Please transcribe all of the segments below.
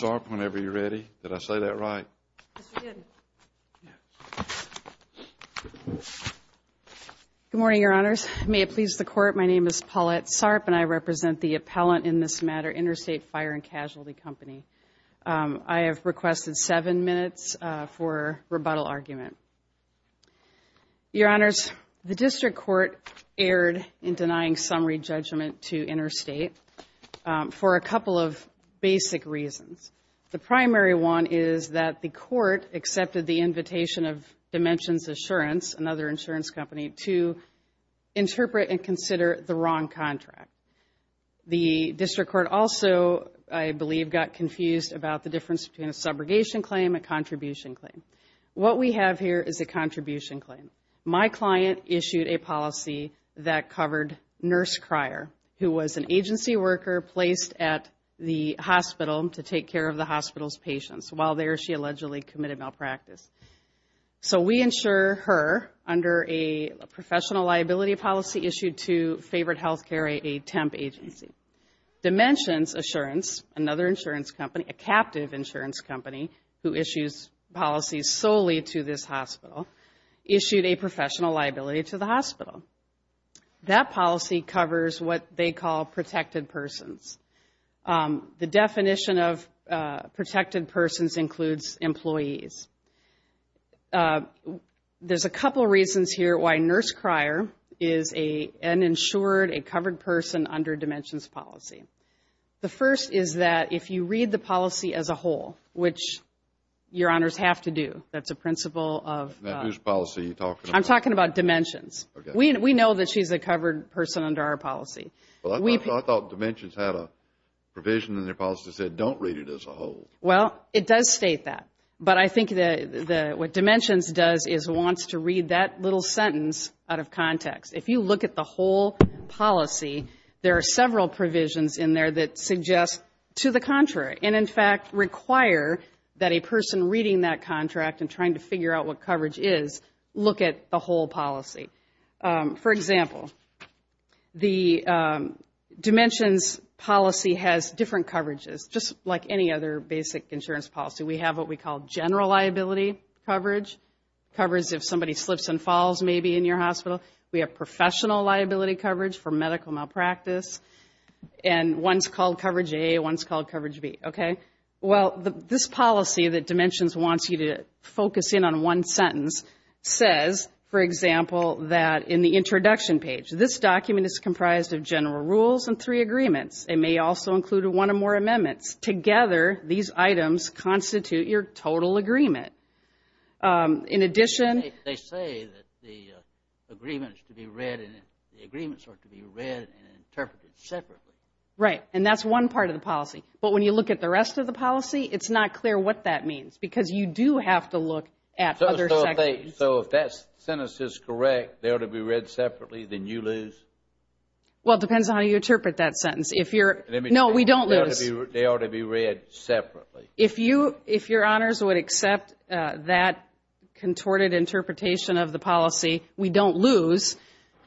Good morning, Your Honors. May it please the Court, my name is Paulette Sarp and I represent the appellant in this matter, Interstate Fire and Casualty Company. I have requested seven minutes for rebuttal argument. Your Honors, the District Court erred in denying summary judgment to Interstate for a couple of basic reasons. The primary one is that the Court accepted the invitation of Dimensions Assurance, another insurance company, to interpret and consider the wrong contract. The District Court also, I believe, got confused about the difference between a subrogation claim and a contribution claim. What we have here is a contribution claim. My client issued a policy that covered Nurse Cryer, who was an agency worker placed at the hospital to take care of the hospital's patients while there she allegedly committed malpractice. So we insure her under a professional liability policy issued to Favorite Healthcare, a temp agency. Dimensions Assurance, another insurance company who issues policies solely to this hospital, issued a professional liability to the hospital. That policy covers what they call protected persons. The definition of protected persons includes employees. There's a couple reasons here why Nurse Cryer is an insured, a covered person under Dimensions policy. The first is that if you read the whole policy, there are several provisions in there that suggest to the contrary and, in fact, require that a person reading that contract and trying to figure out what coverage is look at the whole policy. For example, the Dimensions policy has different coverages, just like any other basic insurance policy. We have what we call general liability coverage, covers if somebody slips and falls maybe in your hospital. We have professional liability coverage for medical malpractice. And one's called coverage A, one's called coverage B. Okay? Well, this policy that Dimensions wants you to focus in on one sentence says, for example, that in the introduction page, this document is comprised of general rules and three agreements. It may also include one or more amendments. Together, these items constitute your total agreement. In addition... They say that the agreements are to be read and interpreted separately. Right. And that's one part of the policy. But when you look at the rest of the policy, it's not clear what that means because you do have to look at other sections. So if that sentence is correct, they ought to be read separately, then you lose? Well, it depends on how you interpret that sentence. If you're... No, we don't lose. They ought to be read separately. If you, if Your Honors would accept that contorted interpretation of the policy, we don't lose.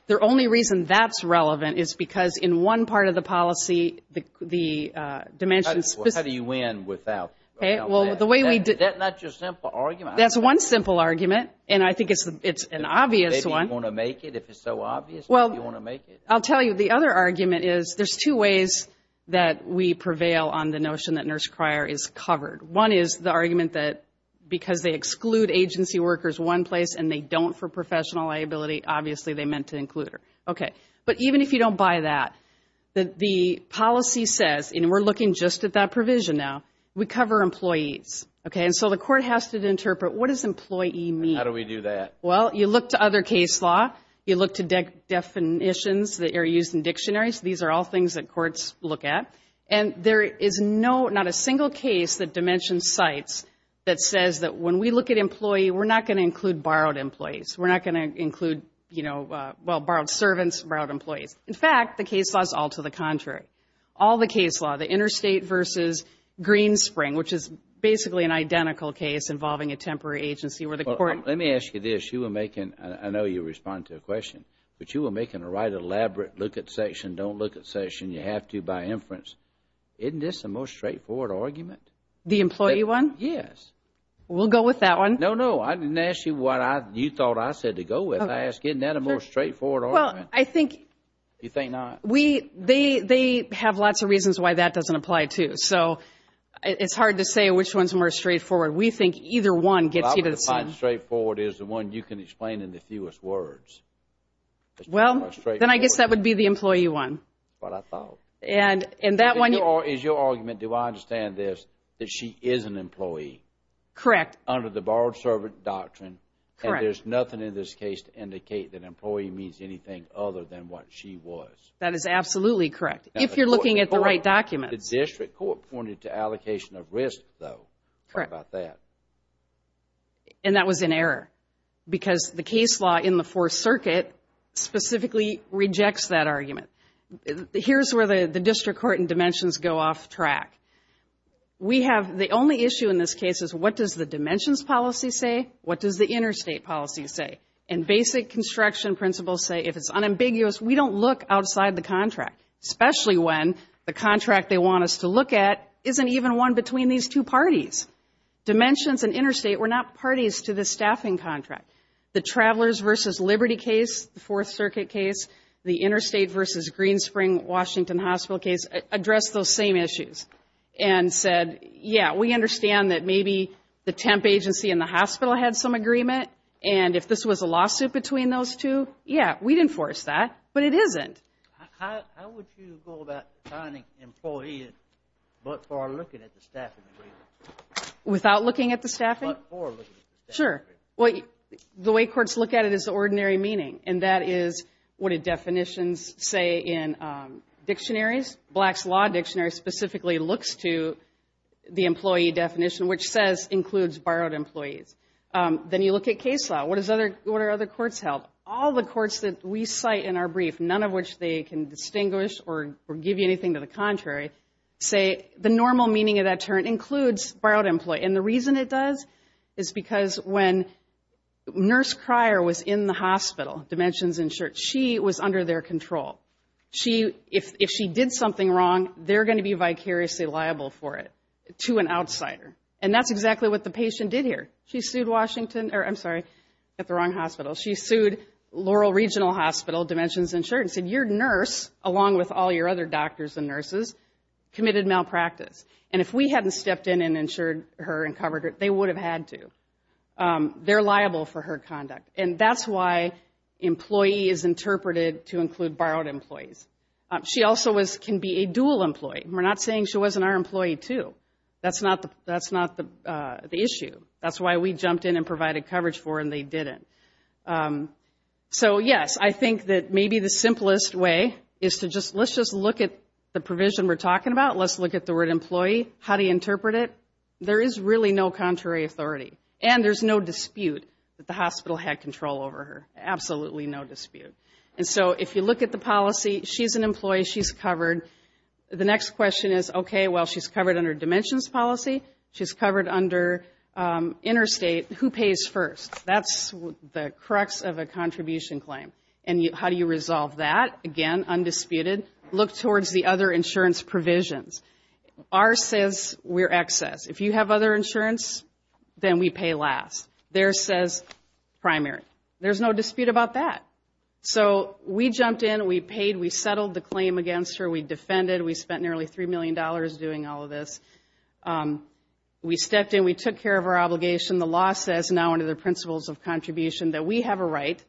The only reason that's relevant is because in one part of the policy, the Dimensions... How do you win without that? Okay. Well, the way we... Is that not your simple argument? That's one simple argument. And I think it's an obvious one. Maybe you want to make it, if it's so obvious, maybe you want to make it. Well, I'll tell you, the other argument is there's two ways that we prevail on the notion that nurse crier is covered. One is the argument that because they exclude agency workers one place and they don't for professional liability, obviously they meant to include her. Okay. But even if you don't buy that, the policy says, and we're looking just at that provision now, we cover employees. Okay. And so the court has to interpret what does employee mean? How do we do that? Well, you look to other case law, you look to definitions that are used in dictionaries. These are all things that courts look at. And there is not a single case that Dimensions cites that says that when we look at employee, we're not going to include borrowed employees. We're not going to include, you know, well, borrowed servants, borrowed employees. In fact, the case law is all to the contrary. All the case law, the interstate versus Greenspring, which is basically an identical case involving a temporary agency where the court... Let me ask you this. I know you respond to a question, but you were making a right elaborate look at section, don't look at section, you have to by inference. Isn't this the most straightforward argument? The employee one? Yes. We'll go with that one. No, no. I didn't ask you what you thought I said to go with. I asked, isn't that a more straightforward argument? Well, I think... You think not? We, they have lots of reasons why that doesn't apply too. So it's hard to say which one's more straightforward. We think either one gets you to the same. The most straightforward is the one you can explain in the fewest words. Well, then I guess that would be the employee one. That's what I thought. And that one... Is your argument, do I understand this, that she is an employee? Correct. Under the borrowed servant doctrine. Correct. And there's nothing in this case to indicate that employee means anything other than what she was. That is absolutely correct. If you're looking at the right documents. The district court pointed to allocation of risk, though. Correct. How about that? And that was an error. Because the case law in the Fourth Circuit specifically rejects that argument. Here's where the district court and dimensions go off track. We have, the only issue in this case is what does the dimensions policy say? What does the interstate policy say? And basic construction principles say, if it's unambiguous, we don't look outside the contract. Especially when the contract they want us to look at isn't even one between these two parties. Dimensions and interstate were not parties to the staffing contract. The Travelers versus Liberty case, the Fourth Circuit case, the Interstate versus Greenspring-Washington Hospital case addressed those same issues. And said, yeah, we understand that maybe the temp agency and the hospital had some agreement. And if this was a lawsuit between those two, yeah, we'd enforce that. But it isn't. How would you go about finding employees but for looking at the staffing agreement? Without looking at the staffing? But for looking at the staffing agreement. Sure. Well, the way courts look at it is the ordinary meaning. And that is what the definitions say in dictionaries. Black's Law Dictionary specifically looks to the employee definition, which says includes borrowed employees. Then you look at case law. What are other courts held? All the courts that we cite in our brief, none of which they can distinguish or give you anything to the contrary, say the normal meaning of that term includes borrowed employee. And the reason it does is because when Nurse Cryer was in the hospital, Dimensions Insurance, she was under their control. She, if she did something wrong, they're going to be vicariously liable for it to an outsider. And that's exactly what the patient did here. She sued Washington, or I'm sorry, at the wrong hospital. She sued Laurel Regional Hospital, Dimensions Insurance, and said, your nurse, along with all your other doctors and nurses, committed malpractice. And if we hadn't stepped in and insured her and covered her, they would have had to. They're liable for her conduct. And that's why employee is interpreted to include borrowed employees. She also can be a dual employee. We're not saying she wasn't our employee, too. That's not the issue. That's why we jumped in and provided coverage for her and they didn't. So, yes, I think that maybe the simplest way is to just, let's just look at the provision we're talking about. Let's look at the word employee. How do you interpret it? There is really no contrary authority. And there's no dispute that the hospital had control over her. Absolutely no dispute. And so if you look at the policy, she's an employee. She's covered. The next question is, okay, well, she's covered under Dimensions policy. She's covered under Interstate. Who pays first? That's the crux of a contribution claim. And how do you resolve that? Again, undisputed. Look towards the other insurance provisions. Ours says we're excess. If you have other insurance, then we pay last. Theirs says primary. There's no dispute about that. So we jumped in. We paid. We settled the claim against her. We defended. We spent nearly $3 million doing all of this. We stepped in. We took care of our obligation. The law says now under the principles of contribution that we have a right,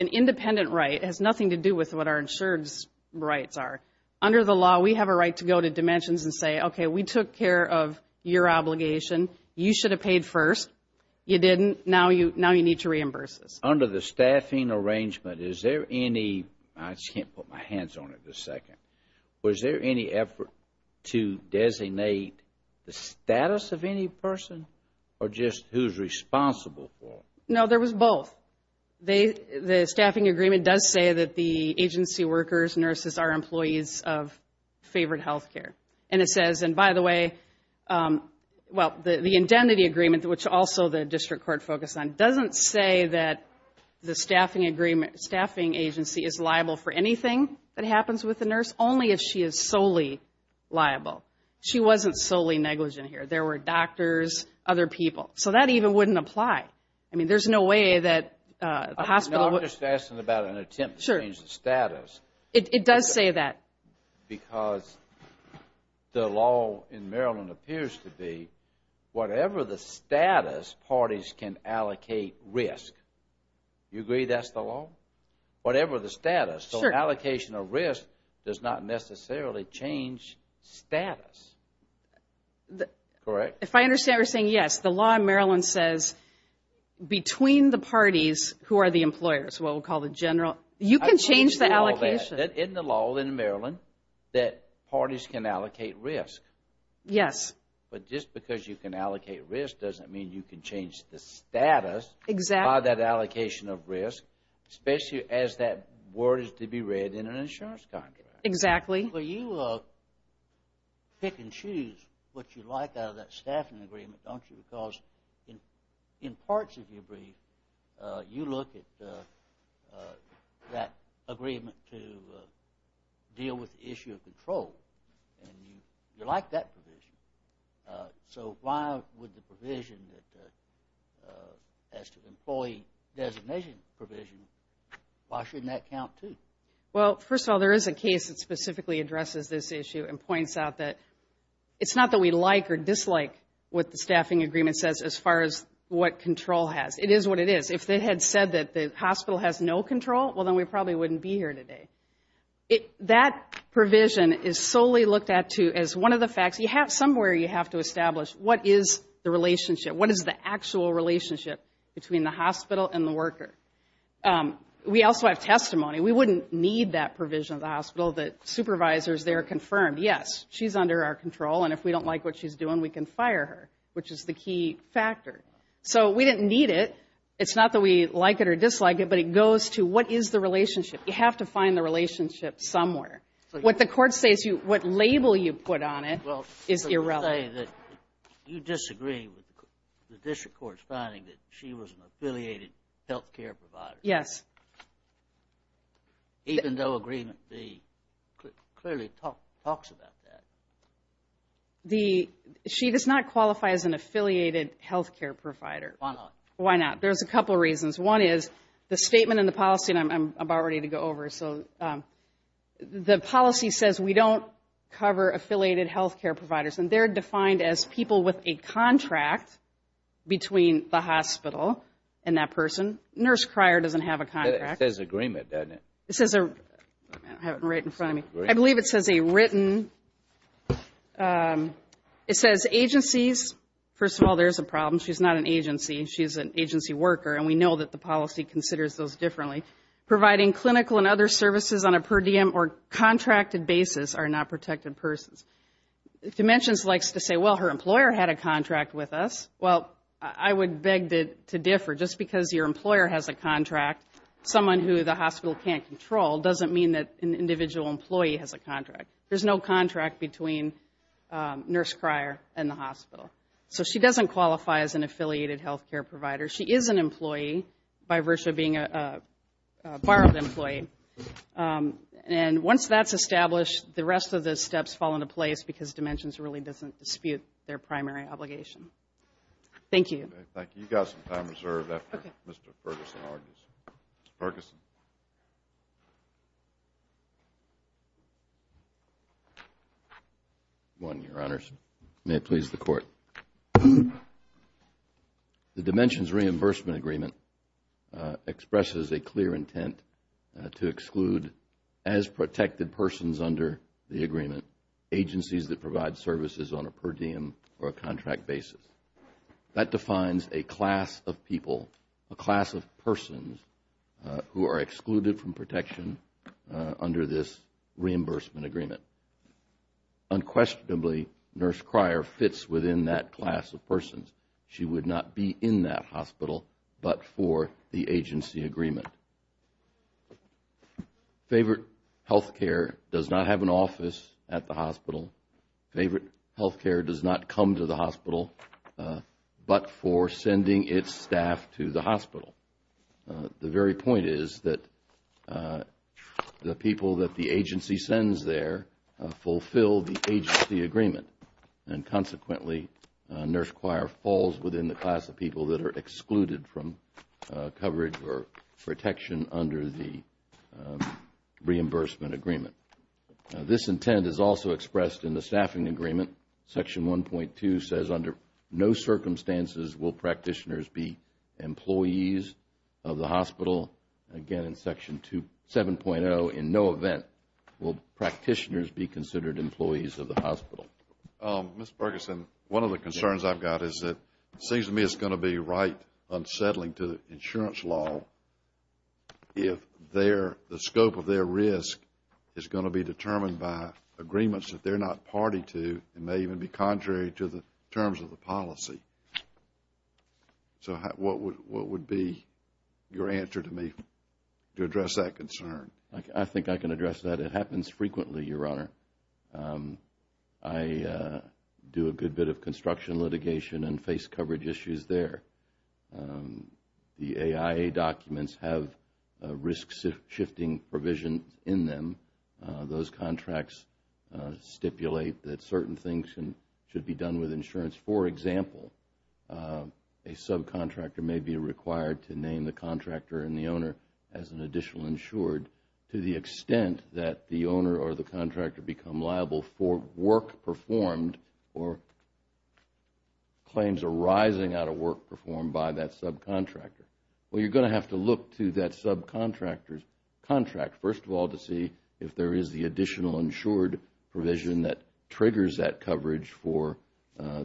an independent right. It has nothing to do with what our insurance rights are. Under the law, we have a right to go to Dimensions and say, okay, we took care of your obligation. You should have paid first. You didn't. Now you need to reimburse us. Under the staffing arrangement, is there any, I just can't put my hands on it for a second, was there any effort to designate the status of any person or just who's responsible for it? No, there was both. The staffing agreement does say that the agency workers, nurses, are employees of favored health care. And it says, and by the way, well, the indemnity agreement, which also the district court focused on, doesn't say that the staffing agency is liable for anything that happens with a nurse, only if she is solely liable. She wasn't solely negligent here. There were doctors, other people. So that even wouldn't apply. I mean, there's no way that a hospital would- I'm just asking about an attempt to change the status. It does say that. Because the law in Maryland appears to be, whatever the status, parties can allocate risk. You agree that's the law? Whatever the status. So allocation of risk does not necessarily change status. Correct? If I understand, you're saying yes. The law in Maryland says between the parties who are the employers, what we'll call the general, you can change the allocation. Isn't the law in Maryland that parties can allocate risk? Yes. But just because you can allocate risk doesn't mean you can change the status by that allocation of risk, especially as that word is to be read in an insurance contract. Exactly. Well, you pick and choose what you like out of that staffing agreement, don't you? Because in parts of your brief, you look at that agreement to deal with the issue of control. And you like that provision. So why would the provision as to employee designation provision, why shouldn't that count, too? Well, first of all, there is a case that specifically addresses this issue and points out that it's not that we like or dislike what the staffing agreement says as far as what control has. It is what it is. If they had said that the hospital has no control, well, then we probably wouldn't be here today. That provision is solely looked at, too, as one of the facts. Somewhere you have to establish what is the relationship, what is the actual relationship between the hospital and the worker. We also have testimony. We wouldn't need that provision of the hospital that supervisors there confirm, yes, she's under our control, and if we don't like what she's doing, we can fire her, which is the key factor. So we didn't need it. It's not that we like it or dislike it, but it goes to what is the relationship. You have to find the relationship somewhere. What the court says you, what label you put on it is irrelevant. You disagree with the district court's finding that she was an affiliated health care provider. Yes. Even though agreement B clearly talks about that. She does not qualify as an affiliated health care provider. Why not? Why not? There's a couple of reasons. One is the statement in the policy, and I'm about ready to go over, so the policy says we don't cover affiliated health care providers, and they're defined as people with a contract between the hospital and that person. Nurse Cryer doesn't have a contract. It says agreement, doesn't it? It says, I have it right in front of me. I believe it says a written, it says agencies. First of all, there's a problem. She's not an agency. She's an agency worker, and we know that the policy considers those differently. Providing clinical and other services on a per diem or contracted basis are not protected persons. Dimensions likes to say, well, her employer had a contract with us. Well, I would beg to differ. Just because your employer has a contract, someone who the hospital can't control, doesn't mean that an individual employee has a contract. There's no contract between Nurse Cryer and the hospital. So she doesn't qualify as an affiliated health care provider. She is an employee, by virtue of being a borrowed employee. And once that's established, the rest of the steps fall into place, because Dimensions really doesn't dispute their primary obligation. Thank you. Thank you. You've got some time reserved after Mr. Ferguson argues. Ferguson. One, Your Honors. May it please the Court. The Dimensions Reimbursement Agreement expresses a clear intent to exclude, as protected persons under the agreement, agencies that provide services on a per diem or a contract basis. That defines a class of people, a class of persons, who are excluded from protection under this reimbursement agreement. Unquestionably, Nurse Cryer fits within that class of persons. She would not be in that hospital, but for the agency agreement. Favorite Health Care does not have an office at the hospital. Favorite Health Care does not come to the hospital, but for sending its staff to the hospital. The very point is that the people that the agency sends there fulfill the agency agreement. And consequently, Nurse Cryer falls within the class of people that are excluded from coverage or protection under the reimbursement agreement. This intent is also expressed in the staffing agreement. Section 1.2 says, under no circumstances will practitioners be employees of the hospital. Again, in Section 7.0, in no event will practitioners be considered employees of the hospital. Mr. Ferguson, one of the concerns I've got is that it seems to me it's going to be right unsettling to the insurance law if the scope of their risk is going to be determined by agreements that they're not party to and may even be contrary to the terms of the policy. So what would be your answer to me to address that concern? I think I can address that. It happens frequently, Your Honor. I do a good bit of construction litigation and face coverage issues there. The AIA documents have risk-shifting provisions in them. Those contracts stipulate that certain things should be done with insurance. For example, a subcontractor may be required to name the contractor and the owner as an additional insured to the extent that the owner or the contractor become liable for work performed or claims arising out of work performed by that subcontractor. Well, you're going to have to look to that subcontractor's contract, first of all, to see if there is the additional insured provision that triggers that coverage for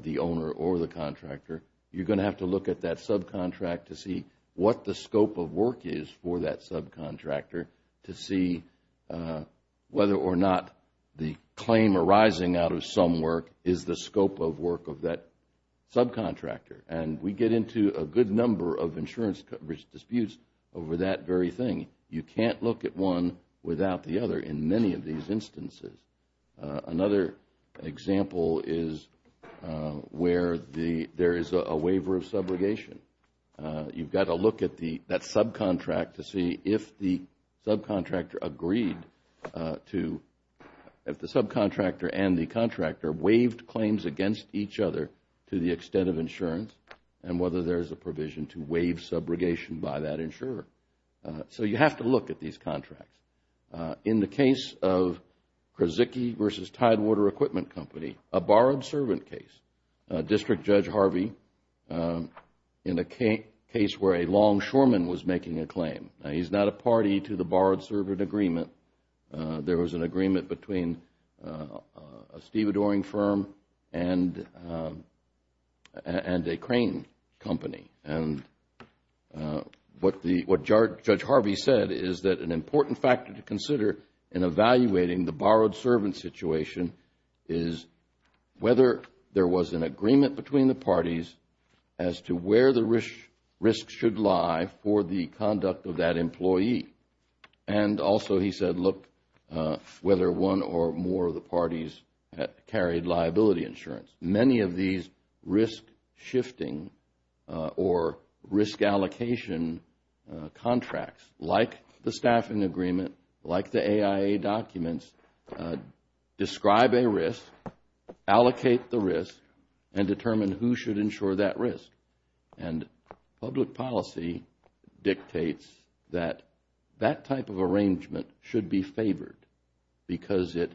the owner or the contractor. You're going to have to look at that subcontract to see what the scope of work is for that subcontractor to see whether or not the claim arising out of some work is the scope of work of that subcontractor. And we get into a good number of insurance coverage disputes over that very thing. You can't look at one without the other in many of these instances. Another example is where there is a waiver of subrogation. You've got to look at that subcontract to see if the subcontractor agreed to, if the subcontractor and the contractor waived claims against each other to the extent of insurance and whether there is a provision to waive subrogation by that insurer. So you have to look at these contracts. In the case of Krasicki v. Tidewater Equipment Company, a borrowed servant case, District Judge Harvey, in a case where a longshoreman was making a claim. Now, he's not a party to the borrowed servant agreement. There was an agreement between a stevedoring firm and a crane company. And what Judge Harvey said is that an important factor to consider in evaluating the borrowed servant situation is whether there was an agreement between the parties as to where the risks should lie for the conduct of that employee. And also, he said, look, whether one or more of the parties carried liability insurance. Many of these risk shifting or risk allocation contracts, like the staffing agreement, like the AIA documents, describe a risk, allocate the risk, and determine who should insure that risk. And public policy dictates that that type of arrangement should be favored because it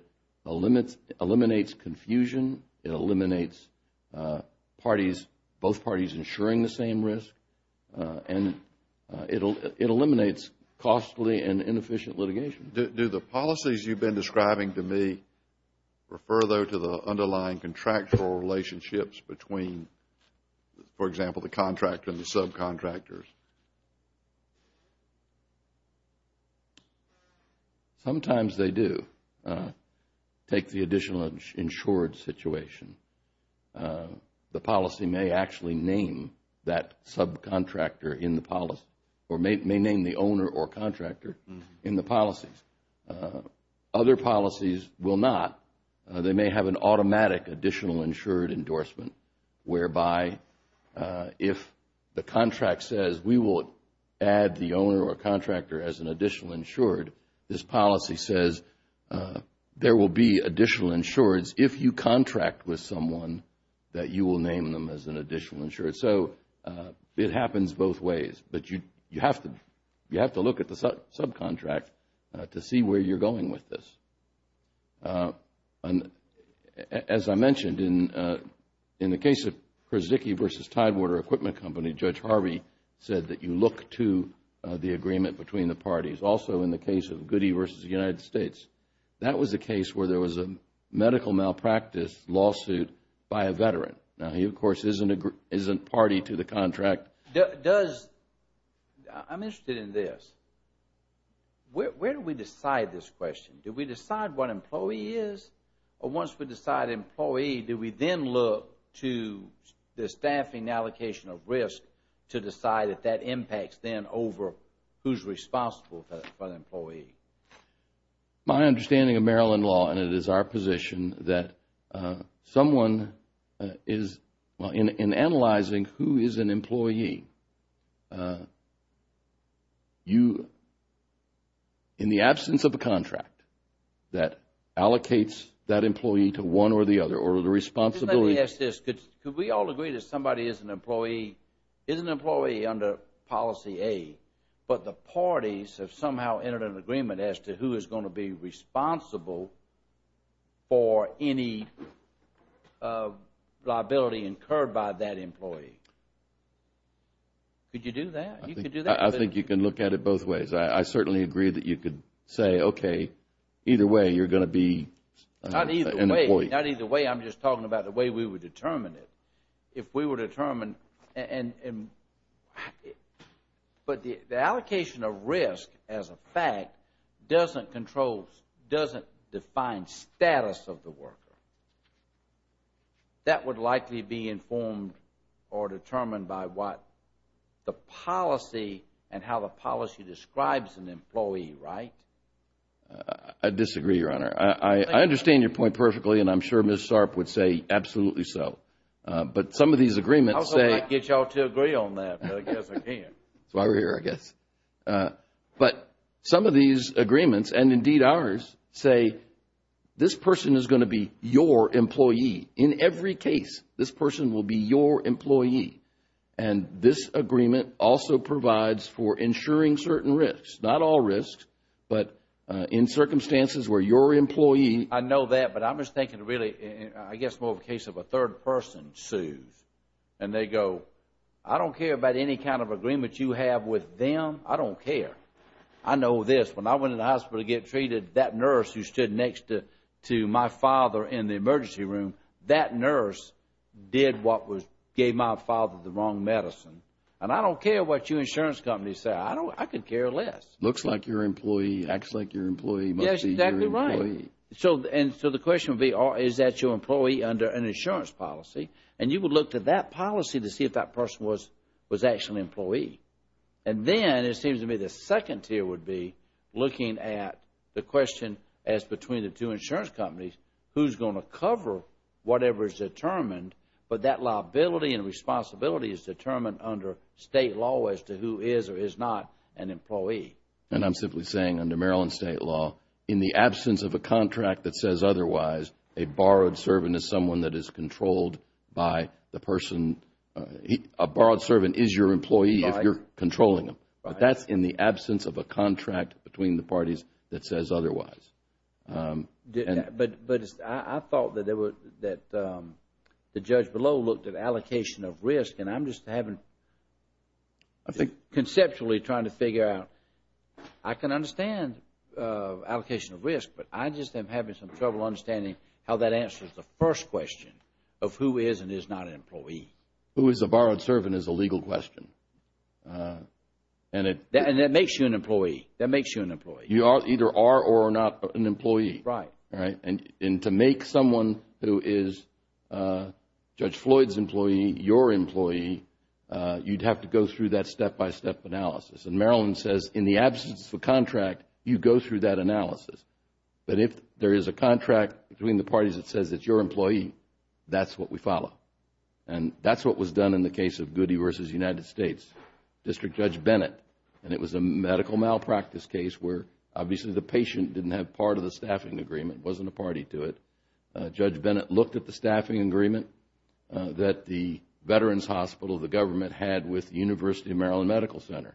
eliminates confusion, it eliminates both parties insuring the same risk, and it eliminates costly and inefficient litigation. Do the policies you've been describing to me refer, though, to the underlying contractual relationships between, for example, the contractor and the subcontractors? Sometimes they do. Take the additional insured situation. The policy may actually name that subcontractor in the policy or may name the owner or contractor in the policies. Other policies will not. They may have an automatic additional insured endorsement whereby if the contract says we will add the owner or contractor as an additional insured, this policy says there will be additional insureds if you contract with someone that you will name them as an additional insured. So, it happens both ways, but you have to look at the subcontract to see where you're going with this. As I mentioned, in the case of Krasicki v. Tidewater Equipment Company, Judge Harvey said that you look to the agreement between the parties. Also, in the case of Goody v. United States, that was a case where there was a medical malpractice lawsuit by a veteran. Now, he, of course, isn't party to the contract. I'm interested in this. Where do we decide this question? Do we decide what employee is, or once we decide employee, do we then look to the staffing allocation of risk to decide if that impacts then over who's responsible for that employee? My understanding of Maryland law, and it is our position, that someone is, in analyzing who is an employee, you, in the absence of a contract that allocates that employee to one or the other, or the responsibility... Could we all agree that somebody is an employee under policy A, but the parties have somehow entered an agreement as to who is going to be responsible for any liability incurred by that employee? Could you do that? You could do that. I think you can look at it both ways. I certainly agree that you could say, okay, either way, you're going to be an employee. Not either way, I'm just talking about the way we would determine it. If we were determined, but the allocation of risk, as a fact, doesn't define status of the worker. That would likely be informed or determined by what the policy and how the policy describes an employee, right? I disagree, Your Honor. I understand your point perfectly, and I'm sure Ms. Sarp would say absolutely so. But some of these agreements say... I also might get you all to agree on that, but I guess I can't. That's why we're here, I guess. But some of these agreements, and indeed ours, say this person is going to be your employee. In every case, this person will be your employee. And this agreement also provides for ensuring certain risks. Not all risks, but in circumstances where your employee... I know that, but I'm just thinking really, I guess more of a case of a third person sues. And they go, I don't care about any kind of agreement you have with them. I don't care. I know this. When I went in the hospital to get treated, that nurse who stood next to my father in the emergency room, that nurse did what gave my father the wrong medicine. And I don't care what you insurance companies say. I could care less. Looks like your employee, acts like your employee. Yes, exactly right. And so the question would be, is that your employee under an insurance policy? And you would look to that policy to see if that person was actually an employee. And then it seems to me the second tier would be looking at the question as between the two insurance companies, who's going to cover whatever is determined, but that liability and responsibility is determined under state law as to who is or is not an employee. And I'm simply saying under Maryland state law, in the absence of a contract that says otherwise, a borrowed servant is someone that is controlled by the person... A borrowed servant is your employee if you're controlling them. But that's in the absence of a contract between the parties that says otherwise. But I thought that the judge below looked at allocation of risk. And I'm just having, I think conceptually trying to figure out, I can understand allocation of risk, but I just am having some trouble understanding how that answers the first question of who is and is not an employee. Who is a borrowed servant is a legal question. And that makes you an employee. That makes you an employee. You either are or are not an employee. Right. And to make someone who is Judge Floyd's employee your employee, you'd have to go through that step-by-step analysis. And Maryland says in the absence of a contract, you go through that analysis. But if there is a contract between the parties that says it's your employee, that's what we follow. And that's what was done in the case of Goody versus United States, District Judge Bennett. And it was a medical malpractice case where obviously the patient didn't have part of the staffing agreement, wasn't a party to it. Judge Bennett looked at the staffing agreement that the Veterans Hospital, the government had with the University of Maryland Medical Center.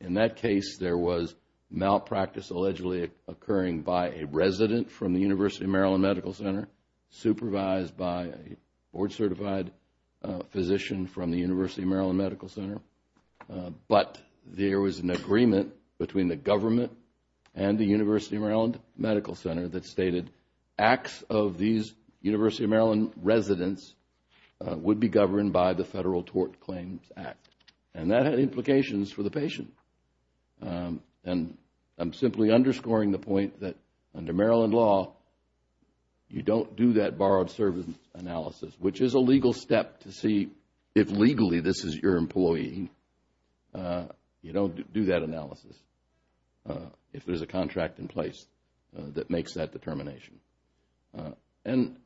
In that case, there was malpractice allegedly occurring by a resident from the University of Maryland Medical Center supervised by a board certified physician from the University of Maryland Medical Center. But there was an agreement between the government and the University of Maryland Medical Center that stated acts of these University of Maryland residents would be governed by the Federal Tort Claims Act. And that had implications for the patient. And I'm simply underscoring the point that under Maryland law, you don't do that borrowed service analysis, which is a legal step to see if legally this is your employee. You don't do that analysis if there's a contract in place that makes that determination. And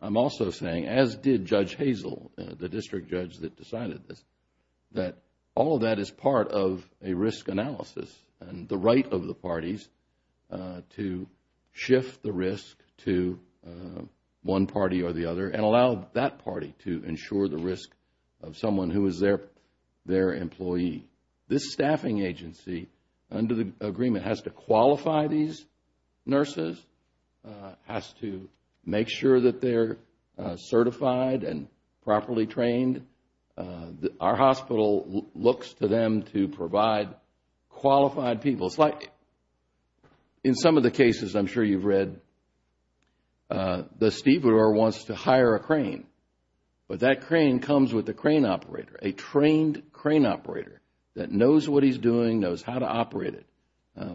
I'm also saying, as did Judge Hazel, the District Judge that decided this, that all of that is part of a risk analysis and the right of the parties to shift the risk to one party or the other and allow that party to ensure the risk of someone who is their employee. This staffing agency, under the agreement, has to qualify these nurses, has to make sure that they're certified and properly trained. Our hospital looks to them to provide qualified people. In some of the cases, I'm sure you've read, the stevedore wants to hire a crane, but that crane comes with a crane operator, a trained crane operator that knows what he's doing, knows how to operate it.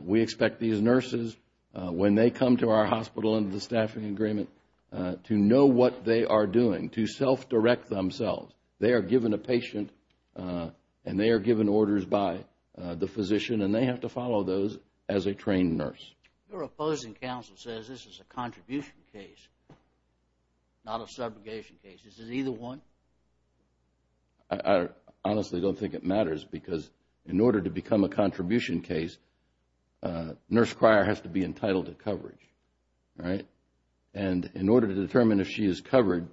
We expect these nurses, when they come to our hospital under the staffing agreement, to know what they are doing, to self-direct themselves. They are given a patient and they are given orders by the physician and they have to follow those as a trained nurse. Your opposing counsel says this is a contribution case, not a subrogation case. Is it either one? I honestly don't think it matters because in order to become a contribution case, a nurse crier has to be entitled to coverage. In order to determine if she is covered,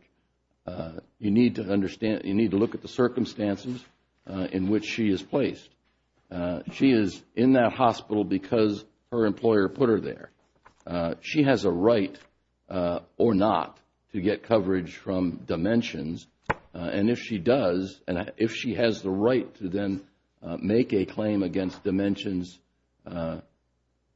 you need to look at the circumstances in which she is placed. She is in that hospital because her employer put her there. She has a right or not to get coverage from dimensions and if she does, if she has the right to then make a claim against dimensions,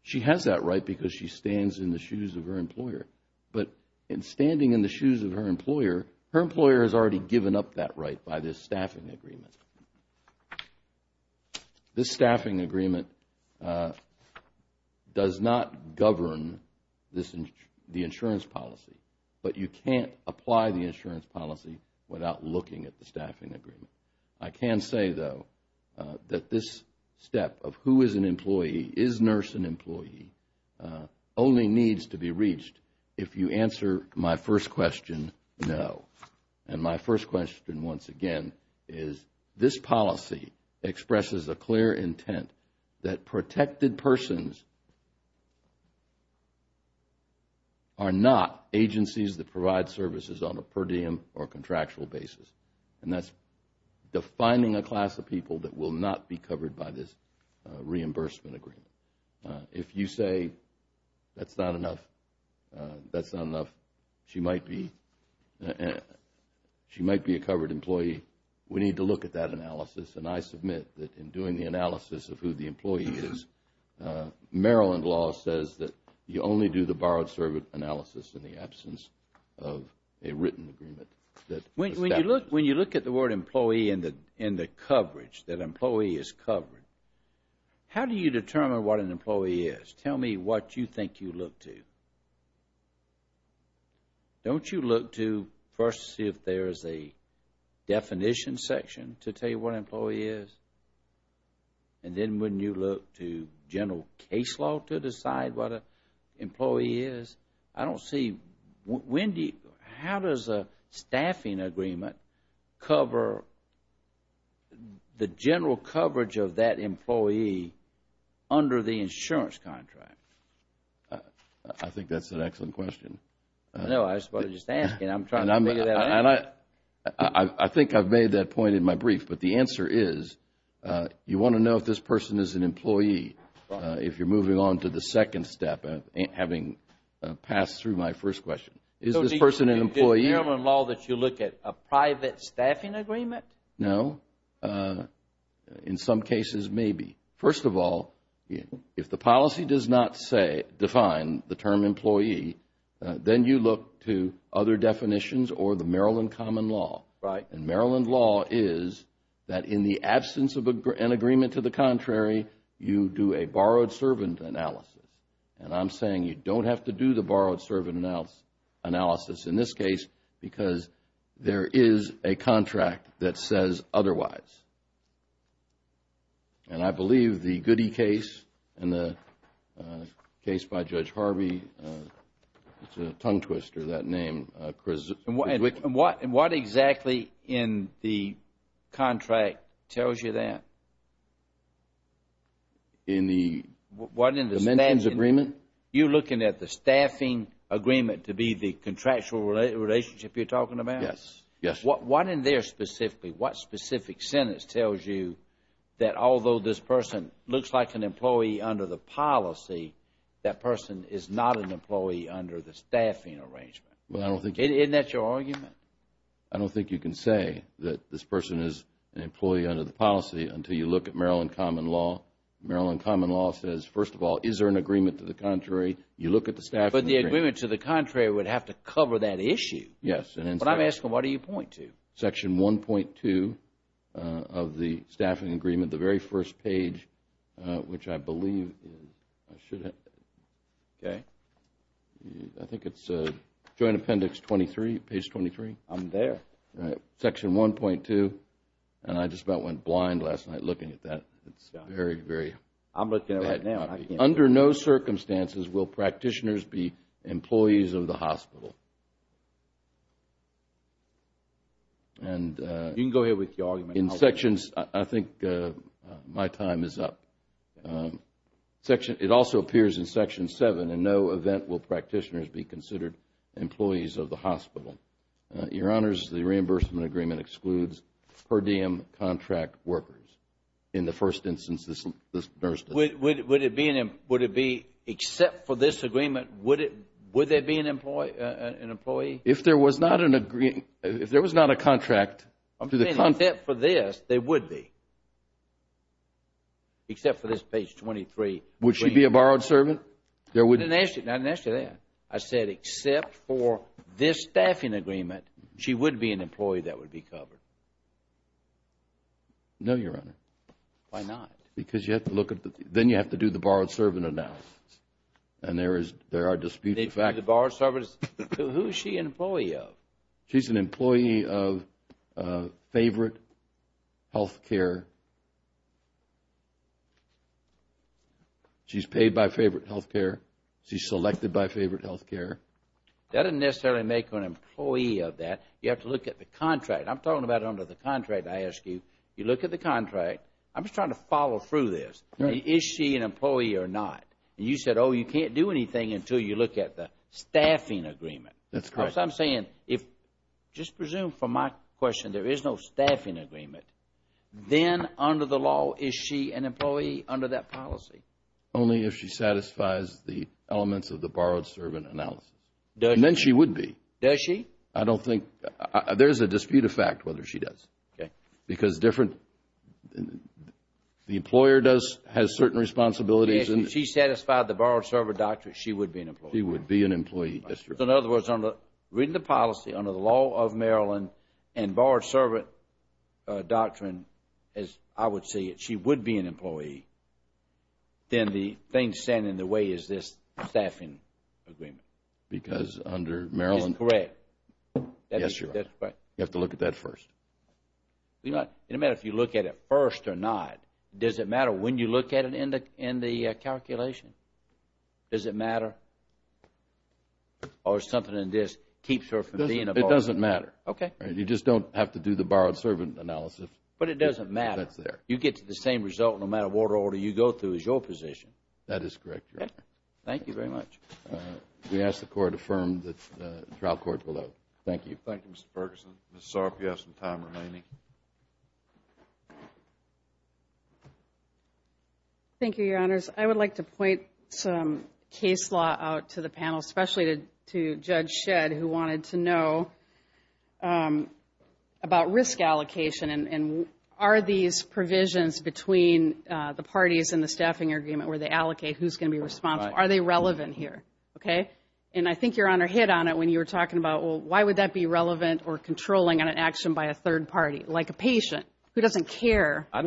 she has that right because she stands in the shoes of her employer. But in standing in the shoes of her employer, her employer has already This staffing agreement does not govern the insurance policy, but you can't apply the insurance policy without looking at the staffing agreement. I can say though that this step of who is an employee, is nurse an employee, only needs to be reached if you answer my first question, no. And my first question once again is this policy expresses a clear intent that protected persons are not agencies that provide services on a per diem or contractual basis and that's defining a class of people that will not be covered by this reimbursement agreement. If you say that's not enough, that's not enough, she might be a covered employee, we need to look at that analysis and I submit that in doing the analysis of who the employee is, Maryland law says that you only do the borrowed service analysis in the absence of a written agreement. When you look at the word employee and the coverage, that employee is covered, how do you determine what an employee is? Tell me what you think you look to. Don't you look to first see if there is a definition section to tell you what an employee is? And then when you look to general case law to decide what an employee is? I don't see when do you, how does a staffing agreement cover the general coverage of that employee under the insurance contract? I think that's an excellent question. No, I was just about to ask. I'm trying to figure that out. I think I've made that point in my brief, but the answer is you want to know if this person is an employee if you're moving on to the second step, having passed through my first question. Is this person an employee? So you do Maryland law that you look at a private staffing agreement? No. In some cases, maybe. First of all, if the policy does not define the term employee, then you look to other definitions or the Maryland common law. And Maryland law is that in the absence of an agreement to the contrary, you do a borrowed servant analysis. And I'm saying you don't have to do the borrowed servant analysis in this case, otherwise. And I believe the Goody case and the case by Judge Harvey, it's a tongue twister, that name. And what exactly in the contract tells you that? In the dimensions agreement? You're looking at the staffing agreement to be the contractual relationship you're talking about? Yes. Yes. What in there specifically, what specific sentence tells you that although this person looks like an employee under the policy, that person is not an employee under the staffing arrangement? Isn't that your argument? I don't think you can say that this person is an employee under the policy until you look at Maryland common law. Maryland common law says, first of all, is there an agreement to the contrary? You look at the staffing agreement. But the agreement to the contrary would have to cover that issue. Yes. But I'm asking, what do you point to? Section 1.2 of the staffing agreement, the very first page, which I believe, I think it's Joint Appendix 23, page 23. I'm there. Section 1.2, and I just about went blind last night looking at that. It's very, very bad copy. I'm looking at it right now. Under no circumstances will practitioners be employees of the hospital. You can go ahead with your argument. In sections, I think my time is up. It also appears in Section 7, in no event will practitioners be considered employees of the hospital. Your Honors, the reimbursement agreement excludes per diem contract workers. In the first instance, this nurse does. Would it be, except for this agreement, would there be an employee? If there was not an agreement, if there was not a contract, I'm saying except for this, there would be. Except for this page 23. Would she be a borrowed servant? I didn't ask you that. I said except for this staffing agreement, she would be an employee that would be covered. No, Your Honor. Why not? Because you have to look at, then you have to do the borrowed servant analysis. And there are disputes. Who is she an employee of? She's an employee of Favorite Health Care. She's paid by Favorite Health Care. She's selected by Favorite Health Care. That doesn't necessarily make her an employee of that. You have to look at the contract. I'm talking about under the contract, I ask you. You look at the contract. I'm just trying to follow through this. Is she an employee or not? You said, oh, you can't do anything until you look at the staffing agreement. That's correct. I'm saying if, just presume from my question, there is no staffing agreement, then under the law, is she an employee under that policy? Only if she satisfies the elements of the borrowed servant analysis. Then she would be. Does she? I don't think. There's a dispute of fact whether she does. Okay. Because different, the employer does, has certain responsibilities. If she satisfied the borrowed servant doctrine, she would be an employee. She would be an employee. Yes, Your Honor. In other words, under, reading the policy under the law of Maryland and borrowed servant doctrine, as I would see it, she would be an employee. Then the thing standing in the way is this staffing agreement. Because under Maryland. That is correct. Yes, Your Honor. You have to look at that first. It doesn't matter if you look at it first or not. Does it matter when you look at it in the calculation? Does it matter? Or something in this keeps her from being a borrower? It doesn't matter. Okay. You just don't have to do the borrowed servant analysis. But it doesn't matter. That's there. You get the same result no matter what order you go through as your position. That is correct, Your Honor. Thank you very much. We ask the Court affirm the trial court below. Thank you. Thank you, Mr. Ferguson. Ms. Sarp, you have some time remaining. Thank you, Your Honors. I would like to point some case law out to the panel, especially to Judge Shedd, who wanted to know about risk allocation and are these provisions between the parties in the staffing agreement where they allocate who's going to be responsible, are they relevant here? Okay? And I think Your Honor hit on it when you were talking about, well, why would that be relevant or controlling an action by a third party? Like a patient who doesn't care. I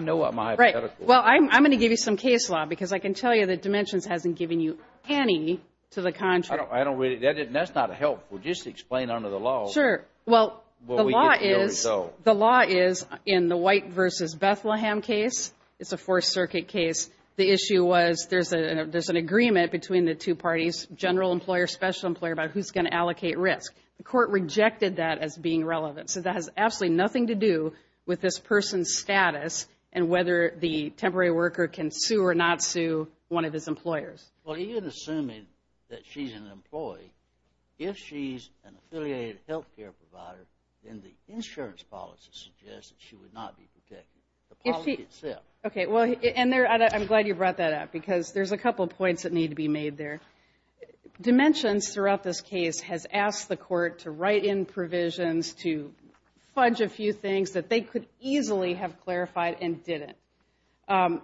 know what my hypothetical is. Right. Well, I'm going to give you some case law because I can tell you that Dimensions hasn't given you any to the contrary. I don't really. That's not helpful. Just explain under the law. Sure. Well, the law is in the White v. Bethlehem case. It's a Fourth Circuit case. The issue was there's an agreement between the two parties, general employer, special employer, about who's going to allocate risk. The court rejected that as being relevant. So that has absolutely nothing to do with this person's status and whether the temporary worker can sue or not sue one of his employers. Well, even assuming that she's an employee, if she's an affiliated health care provider, then the insurance policy suggests that she would not be protected. The policy itself. Okay. Well, and I'm glad you brought that up because there's a couple of points that need to be made there. Dimensions throughout this case has asked the court to write in provisions, to fudge a few things that they could easily have clarified and didn't. And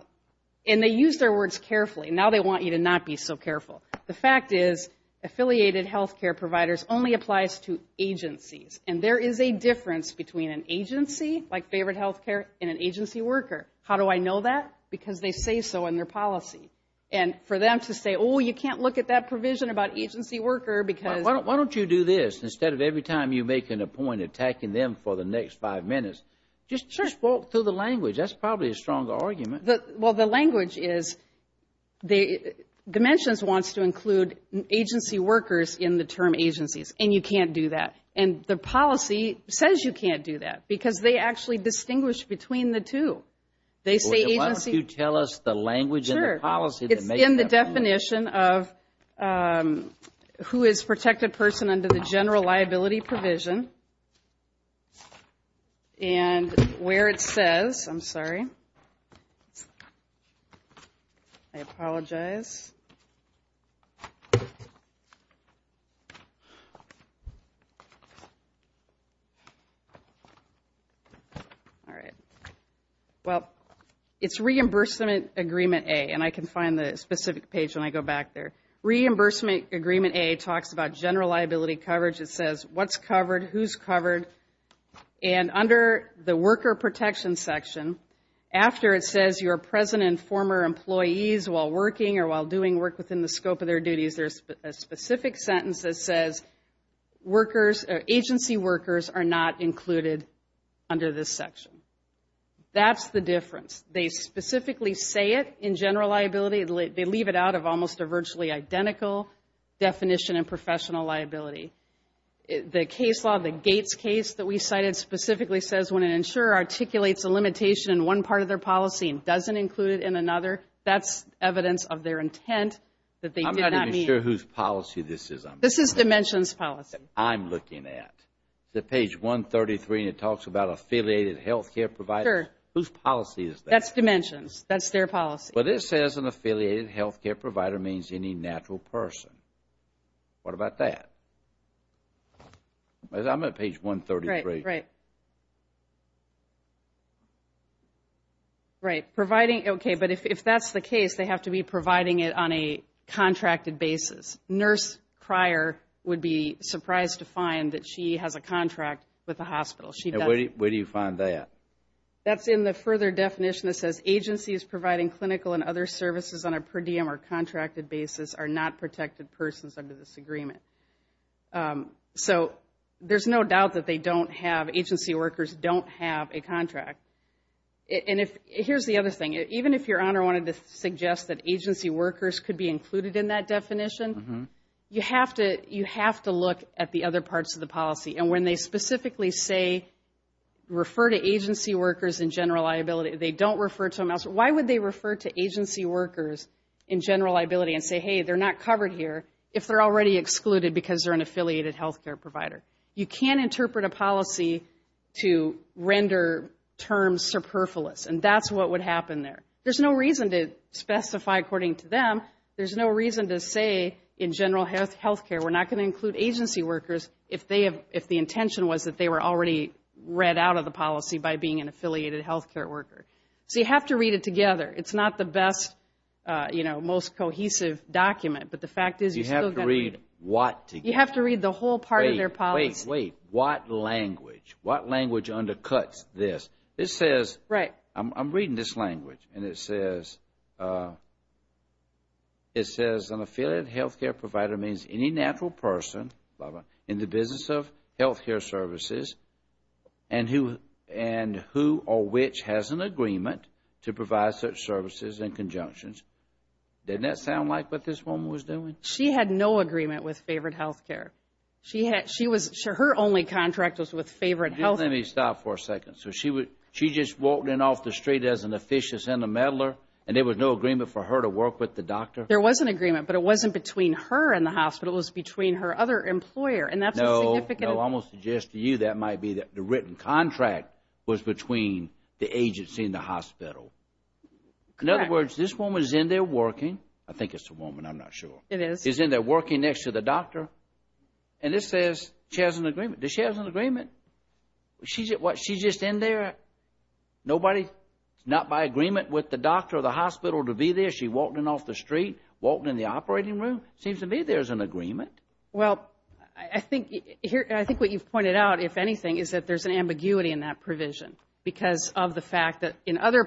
they used their words carefully. Now they want you to not be so careful. The fact is affiliated health care providers only applies to agencies. And there is a difference between an agency, like favorite health care, and an agency worker. How do I know that? Because they say so in their policy. And for them to say, oh, you can't look at that provision about agency worker because. Why don't you do this? Instead of every time you're making a point, attacking them for the next five minutes, just walk through the language. That's probably a stronger argument. Well, the language is Dimensions wants to include agency workers in the term agencies. And you can't do that. And the policy says you can't do that. Because they actually distinguish between the two. Why don't you tell us the language in the policy? It's in the definition of who is protected person under the general liability provision. And where it says, I'm sorry. I apologize. All right. Well, it's reimbursement agreement A. And I can find the specific page when I go back there. Reimbursement agreement A talks about general liability coverage. It says what's covered, who's covered. And under the worker protection section, after it says you're present and former employees while working or while doing work within the scope of their duties, there's a specific sentence that says agency workers are not included under this section. That's the difference. They specifically say it in general liability. They leave it out of almost a virtually identical definition in professional liability. The case law, the Gates case that we cited, specifically says when an insurer articulates a limitation in one part of their policy and doesn't include it in another, that's evidence of their intent. I'm not even sure whose policy this is. This is Dimensions policy. I'm looking at. Is it page 133 and it talks about affiliated health care providers? Sure. Whose policy is that? That's Dimensions. That's their policy. But it says an affiliated health care provider means any natural person. What about that? I'm at page 133. Right, right. Right. Providing, okay, but if that's the case, they have to be providing it on a contracted basis. Nurse Cryer would be surprised to find that she has a contract with the hospital. Where do you find that? That's in the further definition that says agencies providing clinical and other services on a per diem or contracted basis are not protected persons under this agreement. So there's no doubt that agency workers don't have a contract. And here's the other thing. Even if Your Honor wanted to suggest that agency workers could be included in that definition, you have to look at the other parts of the policy. And when they specifically say refer to agency workers in general liability, they don't refer to them elsewhere. Why would they refer to agency workers in general liability and say, hey, they're not covered here if they're already excluded because they're an affiliated health care provider? You can interpret a policy to render terms superfluous, and that's what would happen there. There's no reason to specify according to them. There's no reason to say in general health care we're not going to include agency workers if the intention was that they were already read out of the policy So you have to read it together. It's not the best, you know, most cohesive document. But the fact is you still got to read it. You have to read what together. You have to read the whole part of their policy. Wait, wait, wait. What language? What language undercuts this? This says, I'm reading this language, and it says, it says an affiliated health care provider means any natural person in the business of health care services and who or which has an agreement to provide such services in conjunctions. Didn't that sound like what this woman was doing? She had no agreement with favored health care. She was, her only contract was with favored health care. Just let me stop for a second. So she just walked in off the street as an officious intermeddler, and there was no agreement for her to work with the doctor? There was an agreement, but it wasn't between her and the hospital. It was between her other employer, and that's a significant... No, no, I'm going to suggest to you that might be the written contract was between the agency and the hospital. Correct. In other words, this woman is in there working. I think it's a woman. I'm not sure. It is. She's in there working next to the doctor, and this says she has an agreement. Does she have an agreement? She's just in there, nobody, not by agreement with the doctor or the hospital to be there. She walked in off the street, walked in the operating room. Seems to me there's an agreement. Well, I think what you've pointed out, if anything, is that there's an ambiguity in that provision because of the fact that in other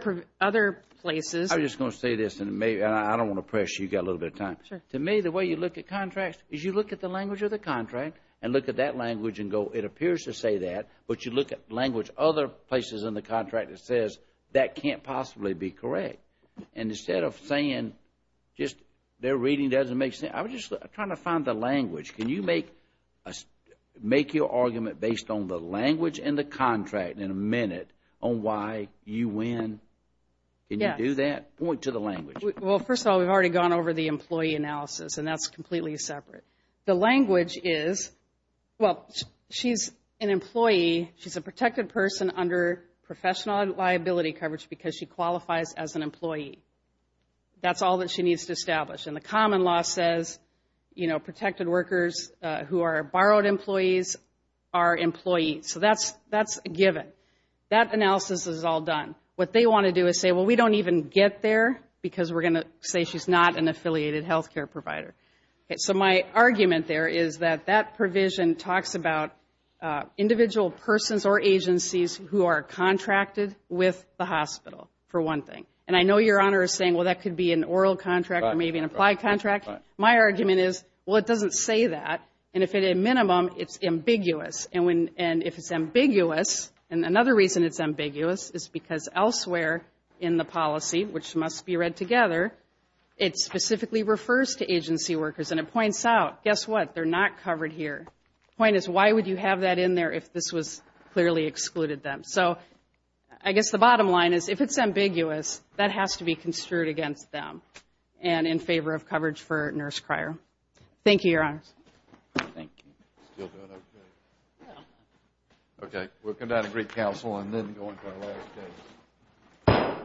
places... I'm just going to say this, and I don't want to pressure you. You've got a little bit of time. To me, the way you look at contracts is you look at the language of the contract and look at that language and go, it appears to say that, but you look at language other places in the contract that says, that can't possibly be correct. And instead of saying just their reading doesn't make sense, I'm just trying to find the language. Can you make your argument based on the language in the contract in a minute on why you win? Can you do that? Point to the language. Well, first of all, we've already gone over the employee analysis, and that's completely separate. The language is, well, she's an employee. She's a protected person under professional liability coverage because she qualifies as an employee. That's all that she needs to establish. And the common law says, you know, protected workers who are borrowed employees are employees. So that's a given. That analysis is all done. What they want to do is say, well, we don't even get there because we're going to say she's not an affiliated health care provider. So my argument there is that that provision talks about individual persons or agencies who are contracted with the hospital, for one thing. And I know Your Honor is saying, well, that could be an oral contract or maybe an applied contract. My argument is, well, it doesn't say that. And if at a minimum, it's ambiguous. And if it's ambiguous, and another reason it's ambiguous is because elsewhere in the policy, which must be read together, it specifically refers to agency workers. And it points out, guess what, they're not covered here. The point is, why would you have that in there if this was clearly excluded them? So I guess the bottom line is, if it's ambiguous, that has to be construed against them and in favor of coverage for a nurse crier. Thank you, Your Honor. Thank you. Still doing okay? Yeah. Okay. We'll come down to Greek Council and then go into our last case.